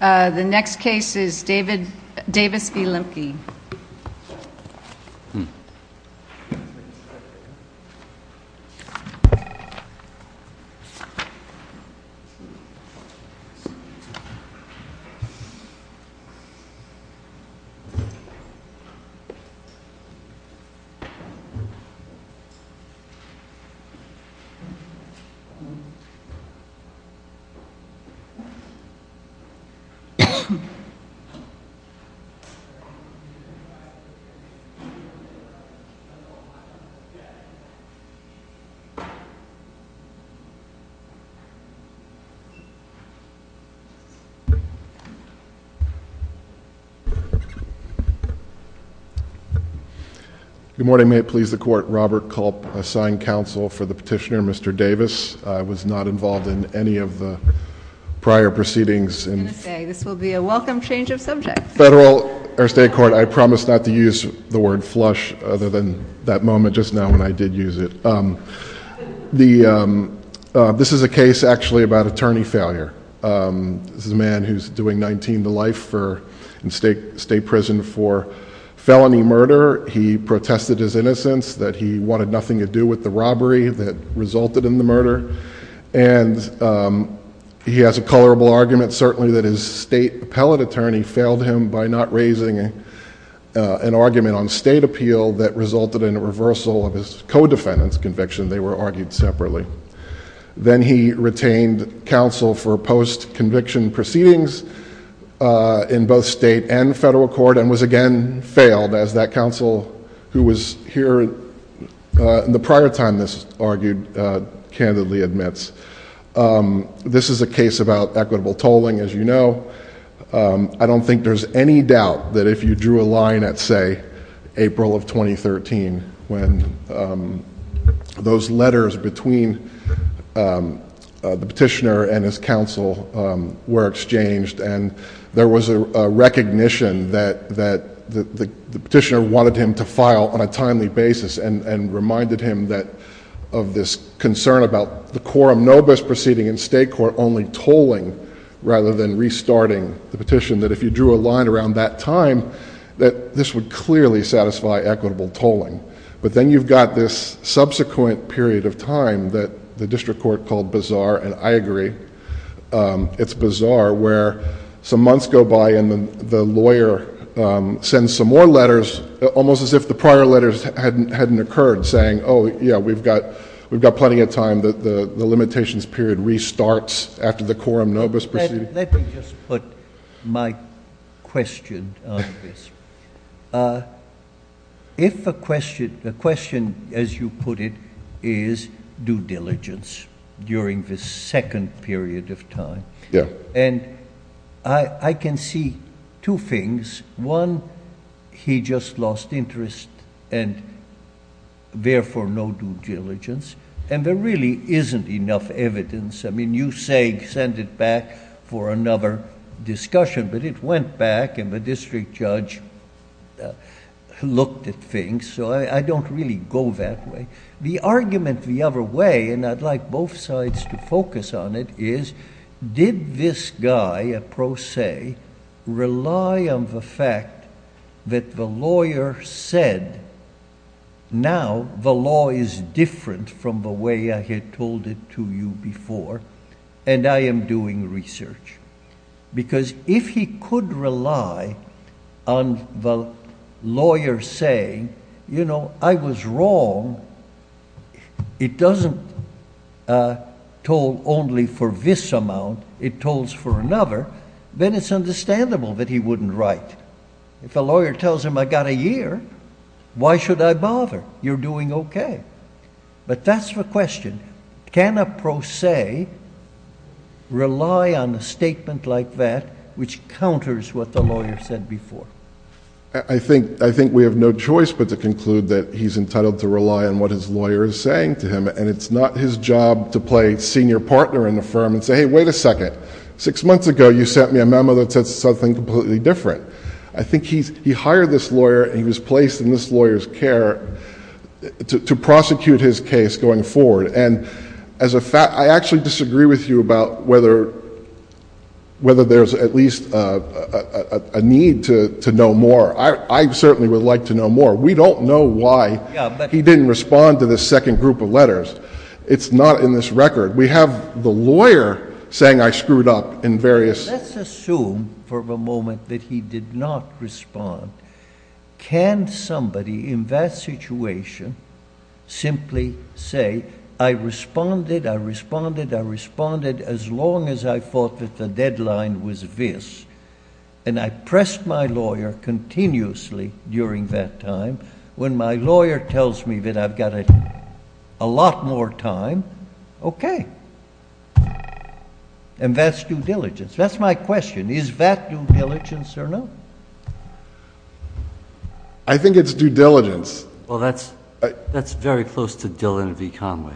the next case is David Davis v. Lempke Good morning may it please the court Robert Culp assigned counsel for the state court I promise not to use the word flush other than that moment just now when I did use it the this is a case actually about attorney failure this is a man who's doing 19 to life for in state prison for felony murder he protested his innocence that he wanted nothing to do with the robbery that he has a colorable argument certainly that his state appellate attorney failed him by not raising an argument on state appeal that resulted in a reversal of his co-defendants conviction they were argued separately then he retained counsel for post conviction proceedings in both state and federal court and was again failed as that counsel who was here in the prior time this argued candidly admits this is a case about equitable tolling as you know I don't think there's any doubt that if you drew a line at say April of 2013 when those letters between the petitioner and his counsel were exchanged and there was a recognition that that the petitioner wanted him to file on a timely basis and of this concern about the quorum no best proceeding in state court only tolling rather than restarting the petition that if you drew a line around that time that this would clearly satisfy equitable tolling but then you've got this subsequent period of time that the district court called bizarre and I agree it's bizarre where some months go by and then the lawyer sends some more letters almost as if the prior letters hadn't occurred saying oh yeah we've got we've got plenty of time that the limitations period restarts after the quorum no best proceeding. Let me just put my question on this. If a question the question as you put it is due diligence during this second period of time yeah and I can see two things one he just lost interest and therefore no due diligence and there really isn't enough evidence I mean you say send it back for another discussion but it went back and the district judge looked at things so I don't really go that way. The argument the other way and I'd like both sides to focus on it is did this guy a pro se rely on the fact that the lawyer said now the law is different from the way I had told it to you before and I am doing research because if he could rely on the lawyer saying you know I was wrong it doesn't toll only for this amount it it's understandable that he wouldn't write if a lawyer tells him I got a year why should I bother you're doing okay but that's the question can a pro se rely on a statement like that which counters what the lawyer said before. I think I think we have no choice but to conclude that he's entitled to rely on what his lawyer is saying to him and it's not his job to play senior partner in the firm and say hey wait a second six months ago you sent me a memo that said something completely different I think he's he hired this lawyer he was placed in this lawyers care to prosecute his case going forward and as a fact I actually disagree with you about whether whether there's at least a need to know more I certainly would like to know more we don't know why he didn't respond to this second group of letters it's not in this record we have the lawyer saying I screwed up in various. Let's assume for a moment that he did not respond can somebody in that situation simply say I responded I responded I responded as long as I thought that the deadline was this and I pressed my lawyer continuously during that time when my lawyer tells me that I've got it a lot more time okay and that's due diligence that's my question is that due diligence or no? I think it's due diligence. Well that's that's very close to Dylan V Conway.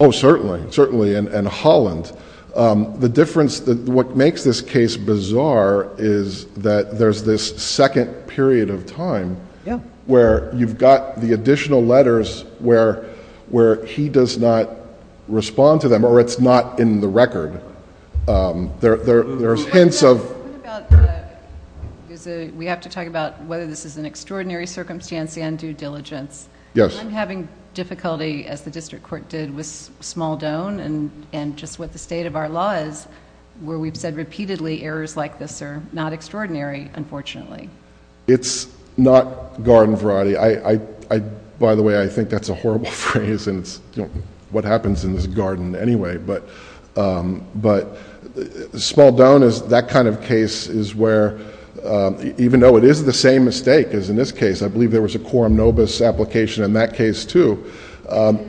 Oh certainly certainly and Holland the difference that what makes this case bizarre is that there's this second period of time where you've got the additional letters where where he does not respond to them or it's not in the record there there's hints of... We have to talk about whether this is an extraordinary circumstance and due diligence. Yes. I'm having difficulty as the district court did with Smaldone and and just what the state of our law is where we've said repeatedly errors like this are not extraordinary unfortunately. It's not garden variety I by the way I think that's a horrible phrase and it's what happens in this garden anyway but but Smaldone is that kind of case is where even though it is the same mistake as in this case I believe there was a quorum nobis application in that case too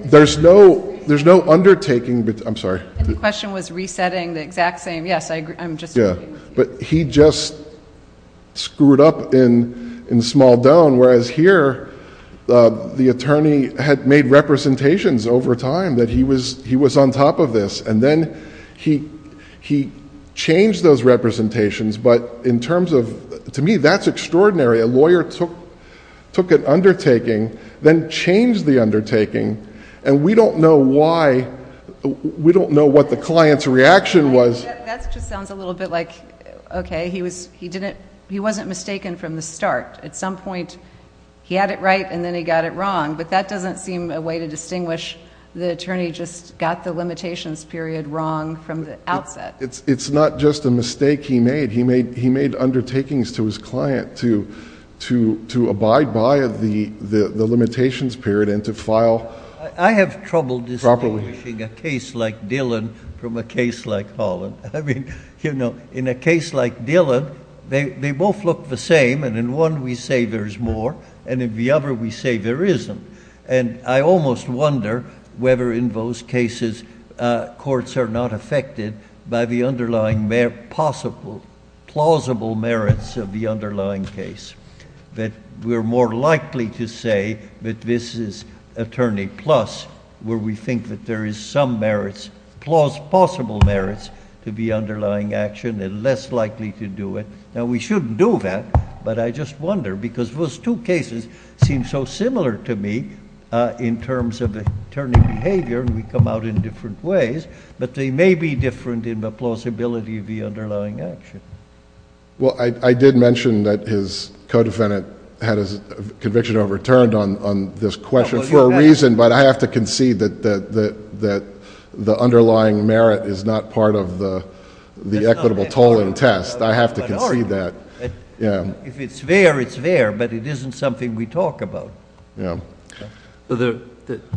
there's no there's no undertaking but I'm sorry the question was resetting the exact same yes I agree I'm just yeah but he just screwed up in in Smaldone whereas here the attorney had made representations over time that he was he was on top of this and then he he changed those representations but in terms of to me that's extraordinary a lawyer took took an undertaking then changed the undertaking and we don't know why we don't know what the client's reaction was okay he was he didn't he wasn't mistaken from the start at some point he had it right and then he got it wrong but that doesn't seem a way to distinguish the attorney just got the limitations period wrong from the outset it's it's not just a mistake he made he made he made undertakings to his client to to to abide by of the the file I have trouble distributing a case like Dylan from a case like Holland I mean you know in a case like Dylan they both look the same and in one we say there's more and in the other we say there isn't and I almost wonder whether in those cases courts are not affected by the underlying mayor possible plausible merits of the underlying case that we're more likely to say that this is attorney plus where we think that there is some merits clause possible merits to be underlying action and less likely to do it now we shouldn't do that but I just wonder because those two cases seem so similar to me in terms of the turning behavior and we come out in different ways but they may be different in the plausibility of the underlying action well I did mention that his co-defendant had his conviction overturned on this question for a reason but I have to concede that that that the underlying merit is not part of the the equitable toll and test I have to concede that yeah if it's there it's there but it isn't something we talk about yeah there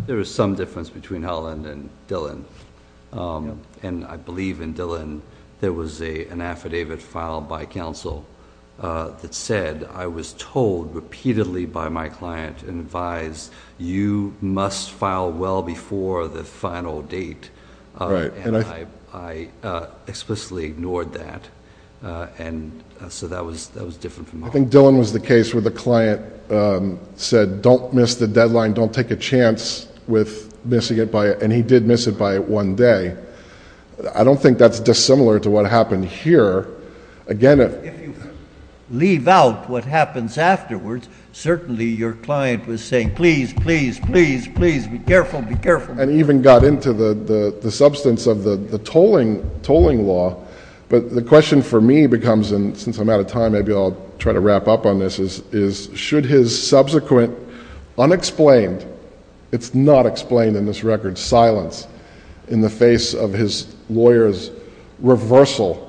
there is some difference between Holland and Dylan and I believe in Dylan there was a an affidavit filed by counsel that said I was told repeatedly by my client and advised you must file well before the final date right and I explicitly ignored that and so that was that was different from I think Dylan was the case where the client said don't miss the deadline don't take a chance with missing it by it and he did miss it by it one day I don't think that's dissimilar to what happened here again it leave out what happens afterwards certainly your client was saying please please please please be careful be careful and even got into the the substance of the the tolling tolling law but the question for me becomes and since I'm out of time maybe I'll try to wrap up on this is is should his subsequent unexplained it's not explained in this record silence in the face of his lawyers reversal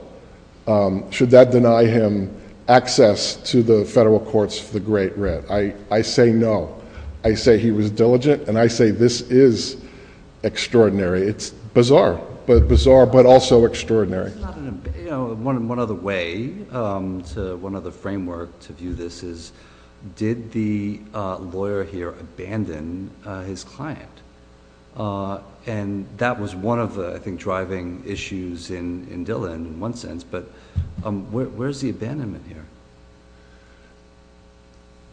should that deny him access to the federal courts for the great red I I say no I say he was diligent and I say this is extraordinary it's bizarre but bizarre but also extraordinary one of the way one of the framework to view this is did the lawyer here abandon his client and that was one of the I think driving issues in in Dylan in one sense but where's the abandonment here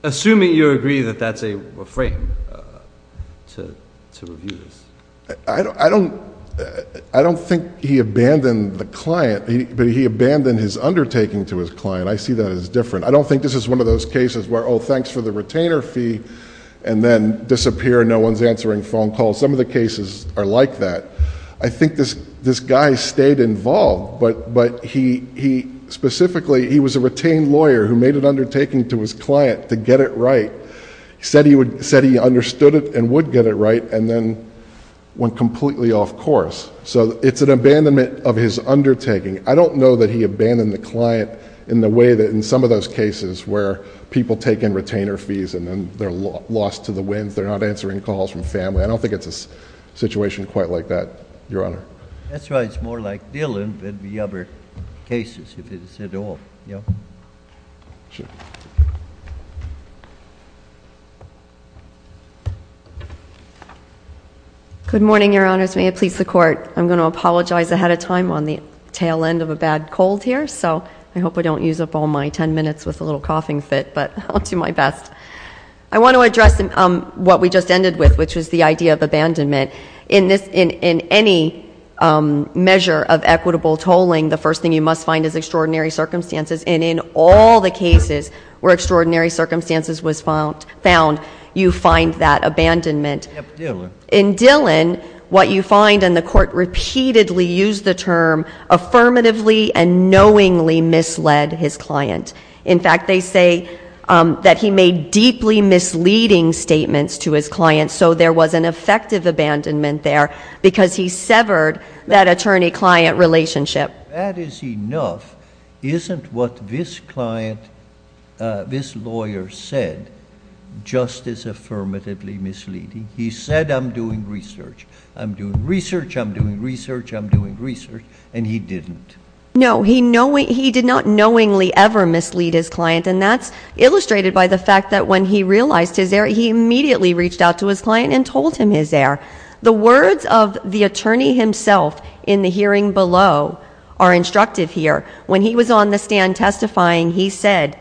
assuming you agree that that's a frame to to review this I don't I don't I don't think he abandoned the client he but he abandoned his undertaking to his client I see that as different I don't think this is one of those cases where oh thanks for the retainer fee and then disappear no one's answering phone calls some of the cases are like that I think this this guy stayed involved but but he he specifically he was a retained lawyer who made an undertaking to his client to get it right he said he would said he understood it and would get it right and then went completely off course so it's an abandonment of his undertaking I don't know that he abandoned the client in the way that in some of those cases where people take in wins they're not answering calls from family I don't think it's a situation quite like that your honor that's right it's more like Dylan than the other cases if it's at all you know good morning your honors may it please the court I'm going to apologize ahead of time on the tail end of a bad cold here so I hope we don't use up all my ten minutes with a little coughing fit but I'll do my best I want to address what we just ended with which was the idea of abandonment in this in in any measure of equitable tolling the first thing you must find is extraordinary circumstances and in all the cases where extraordinary circumstances was found found you find that abandonment in Dylan what you find and the court repeatedly used the term affirmatively and knowingly misled his client in fact they that he made deeply misleading statements to his client so there was an effective abandonment there because he severed that attorney-client relationship that is enough isn't what this client this lawyer said just as affirmatively misleading he said I'm doing research I'm doing research I'm doing research I'm doing research and he didn't know he know he did not knowingly ever mislead his client and that's illustrated by the fact that when he realized his air he immediately reached out to his client and told him his air the words of the attorney himself in the hearing below are instructive here when he was on the stand testifying he said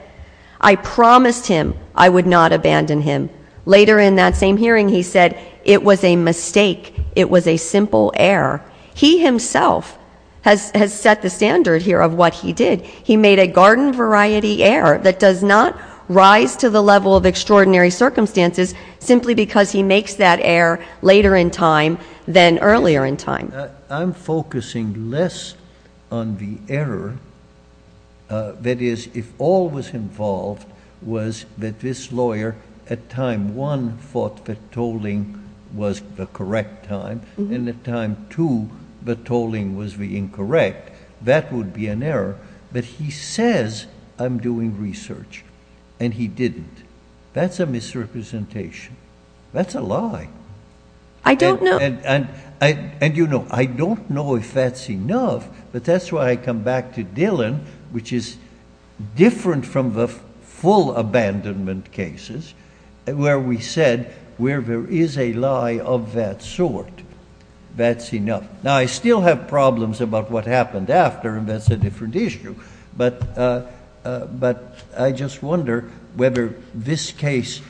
I promised him I would not abandon him later in that same hearing he said it was a mistake it was a simple error he himself has set the standard here of what he did he made a garden variety air that does not rise to the level of extraordinary circumstances simply because he makes that air later in time than earlier in time I'm focusing less on the error that is if all was involved was that this lawyer at time one thought that tolling was the correct time in the time to the tolling was the incorrect that would be an error but he says I'm doing research and he didn't that's a misrepresentation that's a lie I don't know and I and you know I don't know if that's enough but that's why I come back to Dylan which is different from the full abandonment cases where we said where there is a lie of that sort that's enough now I still have problems about what happened after and that's a different issue but but I just wonder whether this case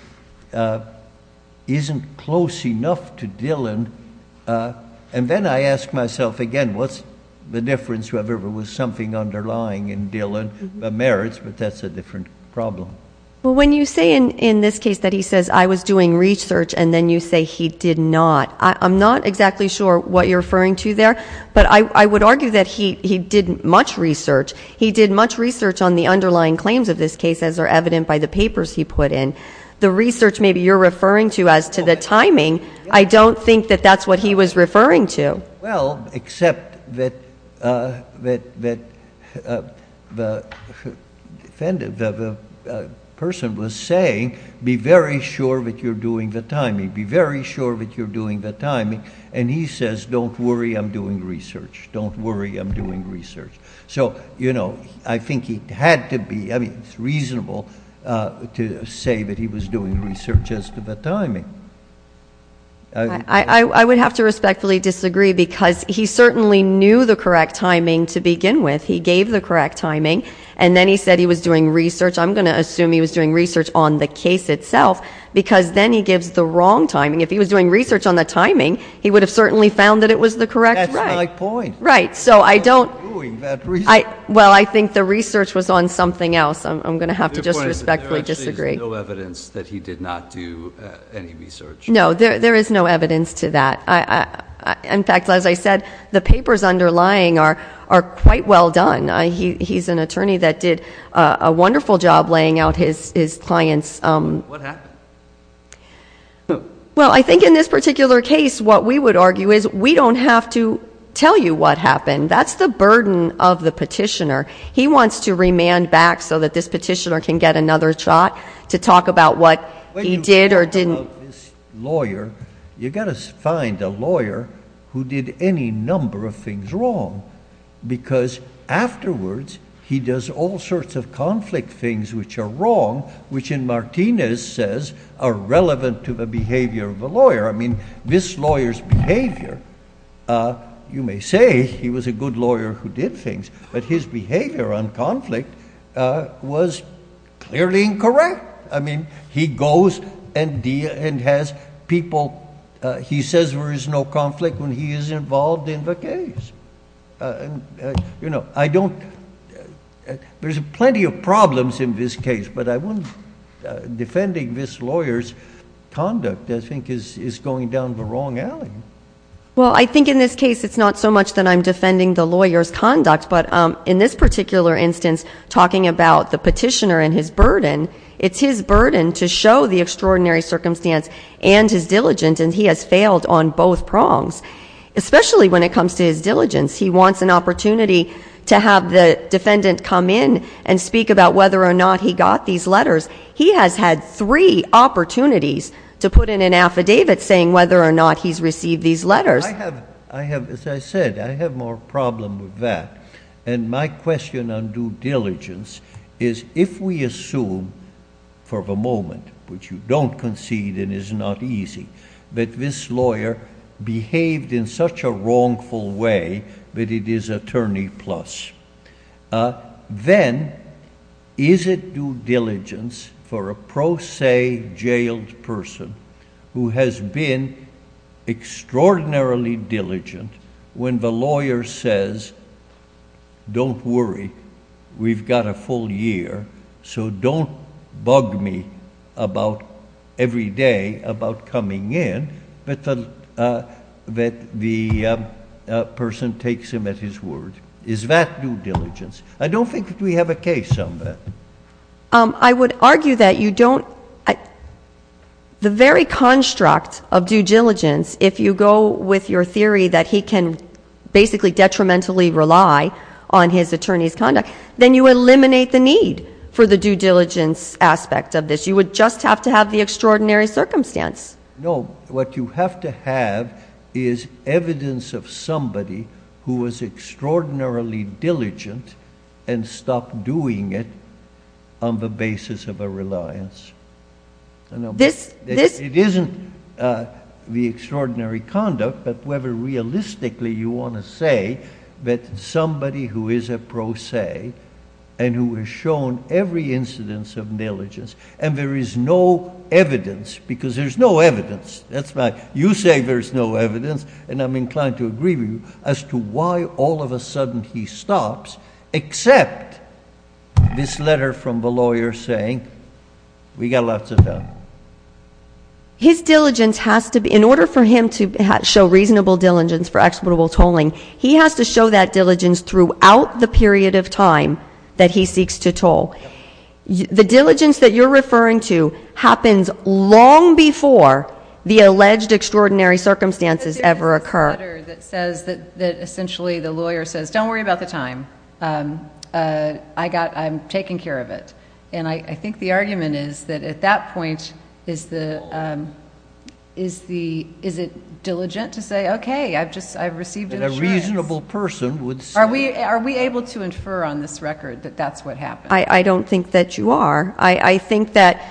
isn't close enough to Dylan and then I asked myself again what's the difference whoever was something underlying in Dylan merits but that's a different problem when you say in in this case that he says I was doing research and then you say he did not I'm not exactly sure what you're referring to there but I would argue that he he didn't much research he did much research on the underlying claims of this case as are evident by the papers he put in the research maybe you're referring to as to the timing I don't think that that's what he was referring to well except that the person was saying be very sure that you're doing the timing be very sure that you're doing the timing and he says don't worry I'm doing research don't worry I'm doing research so you know I think he had to be I mean it's reasonable to say that he was doing research as to the timing I would have to respectfully disagree because he certainly knew the correct timing to begin with he gave the correct timing and then he said he was doing research I'm going to assume he was doing research on the case itself because then he gives the wrong timing if he was doing research on the timing he would have certainly found that it was the correct point right so I don't I well I think the research was on something else I'm gonna have to just respectfully disagree no evidence that he did not do any research no there is no evidence to that I in fact as I said the papers underlying are are quite well done I he's an attorney that did a wonderful job laying out his his clients well I think in this particular case what we would argue is we don't have to tell you what happened that's the burden of the petitioner can get another shot to talk about what he did or didn't lawyer you gotta find a lawyer who did any number of things wrong because afterwards he does all sorts of conflict things which are wrong which in Martinez says are relevant to the behavior of a lawyer I mean this lawyers behavior you may say he was a good lawyer who did things but his behavior on conflict was clearly incorrect I mean he goes and deal and has people he says there is no conflict when he is involved in the case you know I don't there's plenty of problems in this case but I wouldn't defending this lawyers conduct I think is is going down the wrong well I think in this case it's not so much that I'm defending the lawyers conduct but in this particular instance talking about the petitioner in his burden it's his burden to show the extraordinary circumstance and his diligence and he has failed on both prongs especially when it comes to his diligence he wants an opportunity to have the defendant come in and speak about whether or not he got these letters he has had three opportunities to put in an affidavit saying whether or not he's received these letters I have I have as I said I have more problem with that and my question on due diligence is if we assume for the moment which you don't concede and is not easy that this lawyer behaved in such a wrongful way that it is attorney plus then is it due diligence for a pro se jailed person who has been extraordinarily diligent when the lawyer says don't worry we've got a full year so don't bug me about every day about coming in but that the person takes him at his word is that due diligence I don't think we have a case on that I would argue that you don't the very construct of due diligence if you go with your theory that he can basically detrimentally rely on his attorney's conduct then you eliminate the need for the due diligence aspect of this you would just have to have the extraordinary circumstance no what you have to have is evidence of somebody who was extraordinarily diligent and stopped doing it on the basis of a reliance this this it isn't the extraordinary conduct but whoever realistically you want to say that somebody who is a pro se and who has shown every incidence of negligence and there is no evidence because there's no evidence that's right you say there's no evidence and I'm inclined to agree with you as to why all of a sudden he stops except this letter from the lawyer saying we got lots of time his diligence has to be in order for him to show reasonable diligence for exploitable tolling he has to show that diligence throughout the period of time that he referring to happens long before the alleged extraordinary circumstances ever occur that says that essentially the lawyer says don't worry about the time I got I'm taking care of it and I think the argument is that at that point is the is the is it diligent to say okay I've just I've received a reasonable person would are we are we able to infer on this record that that's what happened I don't think that you are I I think that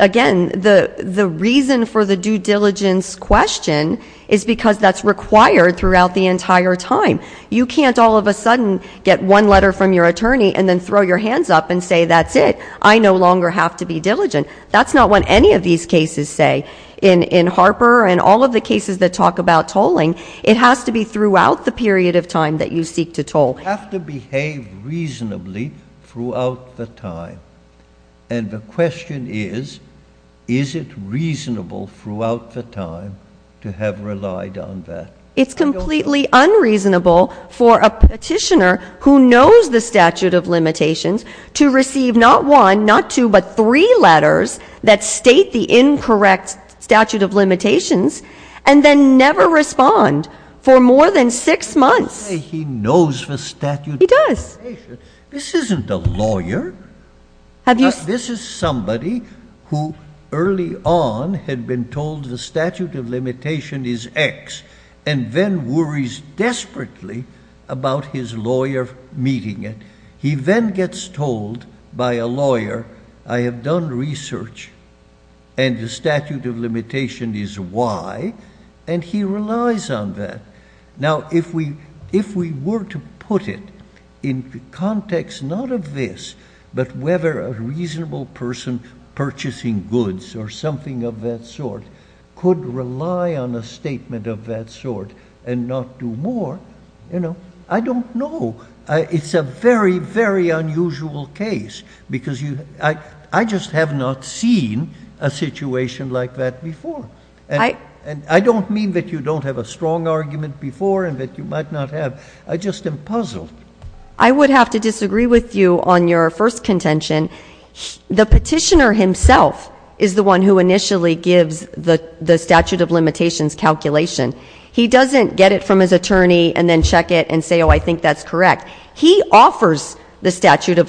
again the the reason for the due diligence question is because that's required throughout the entire time you can't all of a sudden get one letter from your attorney and then throw your hands up and say that's it I no longer have to be diligent that's not what any of these cases say in in Harper and all of the cases that talk about tolling it has to be throughout the period of time that you seek to toll have to behave reasonably throughout the time and the question is is it reasonable throughout the time to have relied on that it's completely unreasonable for a petitioner who knows the statute of limitations to receive not one not two but three letters that state the incorrect statute of limitations and then never respond for more than six months he knows the statute does this isn't a lawyer have you this is somebody who early on had been told the statute of limitation is X and then worries desperately about his lawyer meeting it he then gets told by a lawyer I have done research and the statute of why and he relies on that now if we if we were to put it in the context not of this but whether a reasonable person purchasing goods or something of that sort could rely on a statement of that sort and not do more you know I don't know it's a very very unusual case because you I I just have not seen a before I and I don't mean that you don't have a strong argument before and that you might not have I just am puzzled I would have to disagree with you on your first contention the petitioner himself is the one who initially gives the the statute of limitations calculation he doesn't get it from his attorney and then check it and say oh I think that's correct he offers the statute of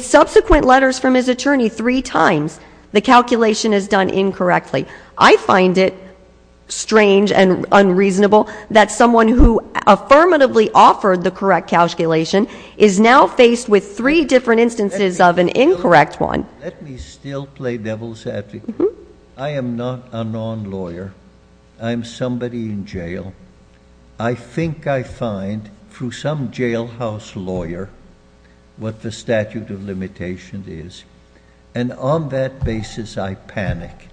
subsequent letters from his attorney three times the calculation is done incorrectly I find it strange and unreasonable that someone who affirmatively offered the correct calculation is now faced with three different instances of an incorrect one I am NOT a non-lawyer I'm somebody in is and on that basis I panic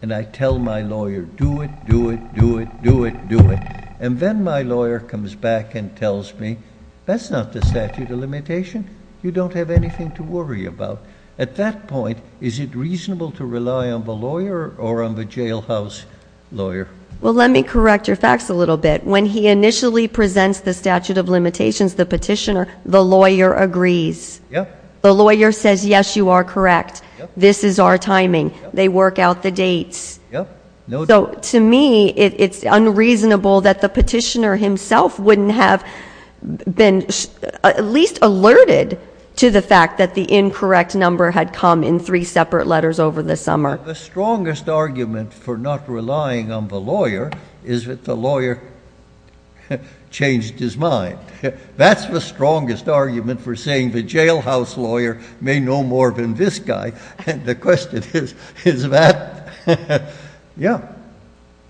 and I tell my lawyer do it do it do it do it do it and then my lawyer comes back and tells me that's not the statute of limitation you don't have anything to worry about at that point is it reasonable to rely on the lawyer or on the jailhouse lawyer well let me correct your facts a little bit when he initially presents the statute of limitations the petitioner the lawyer agrees yeah the lawyer says yes you are correct this is our timing they work out the dates so to me it's unreasonable that the petitioner himself wouldn't have been at least alerted to the fact that the incorrect number had come in three separate letters over the summer the strongest argument for not relying on the lawyer is that the lawyer changed his mind that's the strongest argument for saying the jailhouse lawyer may know more than this guy and the question is is that yeah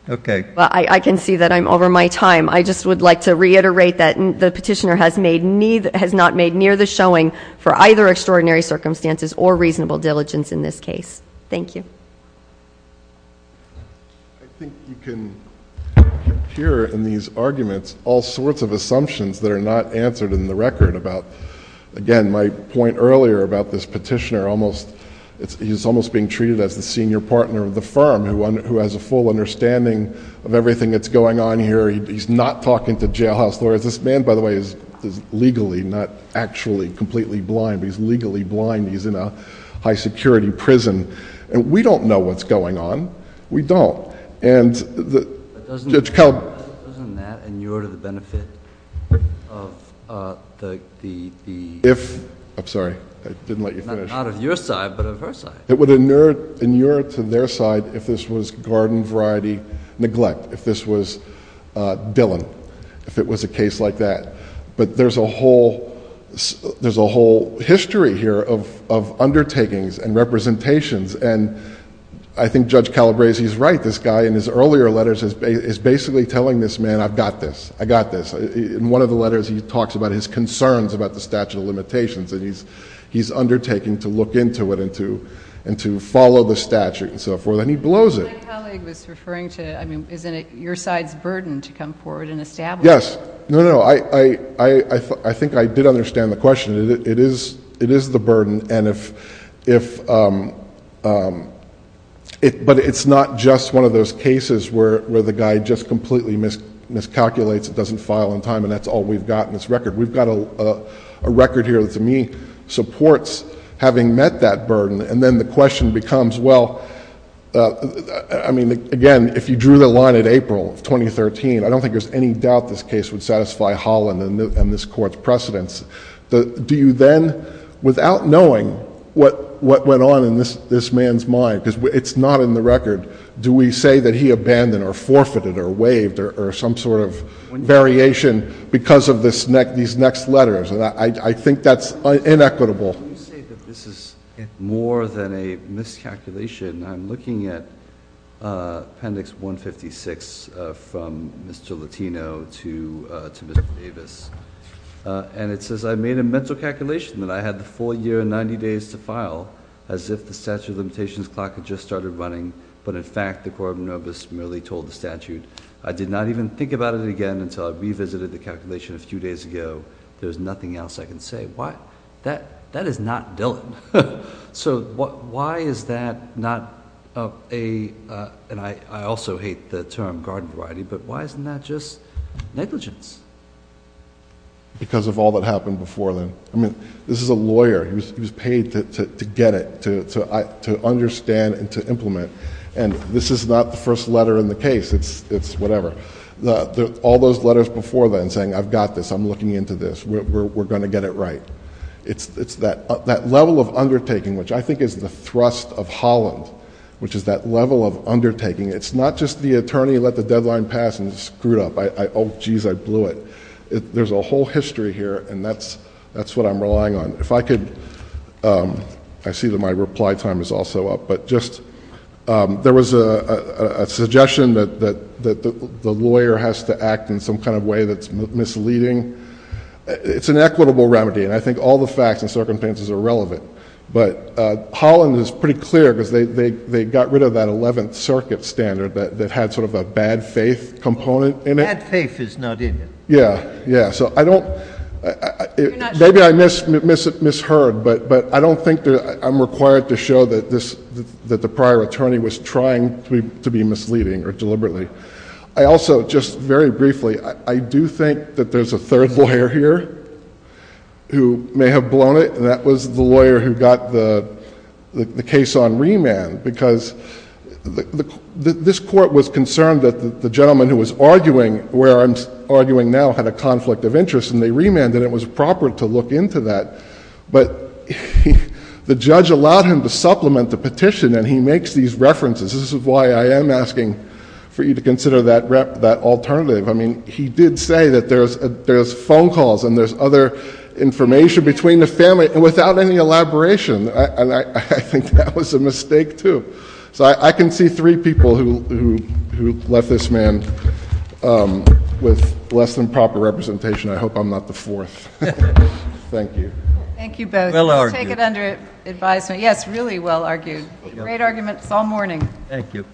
okay well I can see that I'm over my time I just would like to reiterate that the petitioner has made need has not made near the showing for either extraordinary circumstances or reasonable diligence in this case thank you I think you can hear in these arguments all sorts of assumptions that are not answered in the record about again my point earlier about this petitioner almost it's almost being treated as the senior partner of the firm who has a full understanding of everything that's going on here he's not talking to jail house lawyers this man by the way is legally not actually completely blind he's legally blind he's in a high-security prison and we don't know what's going on we don't and that doesn't help and you're to the benefit of the if I'm sorry I didn't let you finish out of your side but a person it would a nerd in Europe to their side if this was garden variety neglect if this was Dylan if it was a case like that but there's a whole there's a whole history here of undertakings and representations and I think judge Calabrese he's right this guy in his earlier letters is basically telling this man I've got this I got this in one of the letters he talks about his concerns about the statute of limitations and he's he's undertaking to look into it into and to follow the statute and so forth and he blows it your side's burden to come forward and establish yes no no I I think I did understand the question it is it is the burden and if if it but it's not just one of those cases where where the guy just completely miscalculates it doesn't file in time and that's all we've gotten this record we've got a record here to me supports having met that burden and then the question becomes well I mean again if you drew the line at April 2013 I don't think there's any doubt this precedence do you then without knowing what what went on in this this man's mind because it's not in the record do we say that he abandoned or forfeited or waived or some sort of variation because of this neck these next letters and I think that's inequitable more than a miscalculation I'm looking at appendix 156 from mr. Latino to to mr. Davis and it says I made a mental calculation that I had the full year and 90 days to file as if the statute of limitations clock had just started running but in fact the core of nobis merely told the statute I did not even think about it again until I revisited the calculation a few days ago there's nothing else I can say why that that is not Dylan so what why is that not a and I also hate the term garden variety but why isn't that just negligence because of all that happened before then I mean this is a lawyer who's paid to get it to understand and to implement and this is not the first letter in the case it's it's whatever the all those letters before then saying I've got this I'm looking into this we're going to get it right it's it's that level of undertaking which I think is the thrust of Holland which is that level of undertaking it's not just the attorney let the deadline pass and screwed up I oh geez I blew it there's a whole history here and that's that's what I'm relying on if I could I see that my reply time is also up but just there was a suggestion that that that the lawyer has to act in some kind of way that's misleading it's an equitable remedy and I think all the facts and circumstances are relevant but Holland is pretty clear because they they got rid of that 11th Circuit standard that had sort of a bad faith component in it faith is not in yeah yeah so I don't maybe I miss miss it miss heard but but I don't think that I'm required to show that this that the prior attorney was trying to be misleading or deliberately I also just very briefly I do think that there's a third lawyer here who may have blown it and that was the lawyer who got the the case on remand because the this court was concerned that the gentleman who was arguing where I'm arguing now had a conflict of interest and they remanded it was proper to look into that but the judge allowed him to supplement the petition and he makes these references this is why I am asking for you to consider that rep that alternative I mean he did say that there's there's phone calls and there's other information between the family and without any elaboration and I think that was a mistake too so I can see three people who who left this man with less than proper representation I hope I'm not the fourth thank you yes really well argued great arguments all morning thank you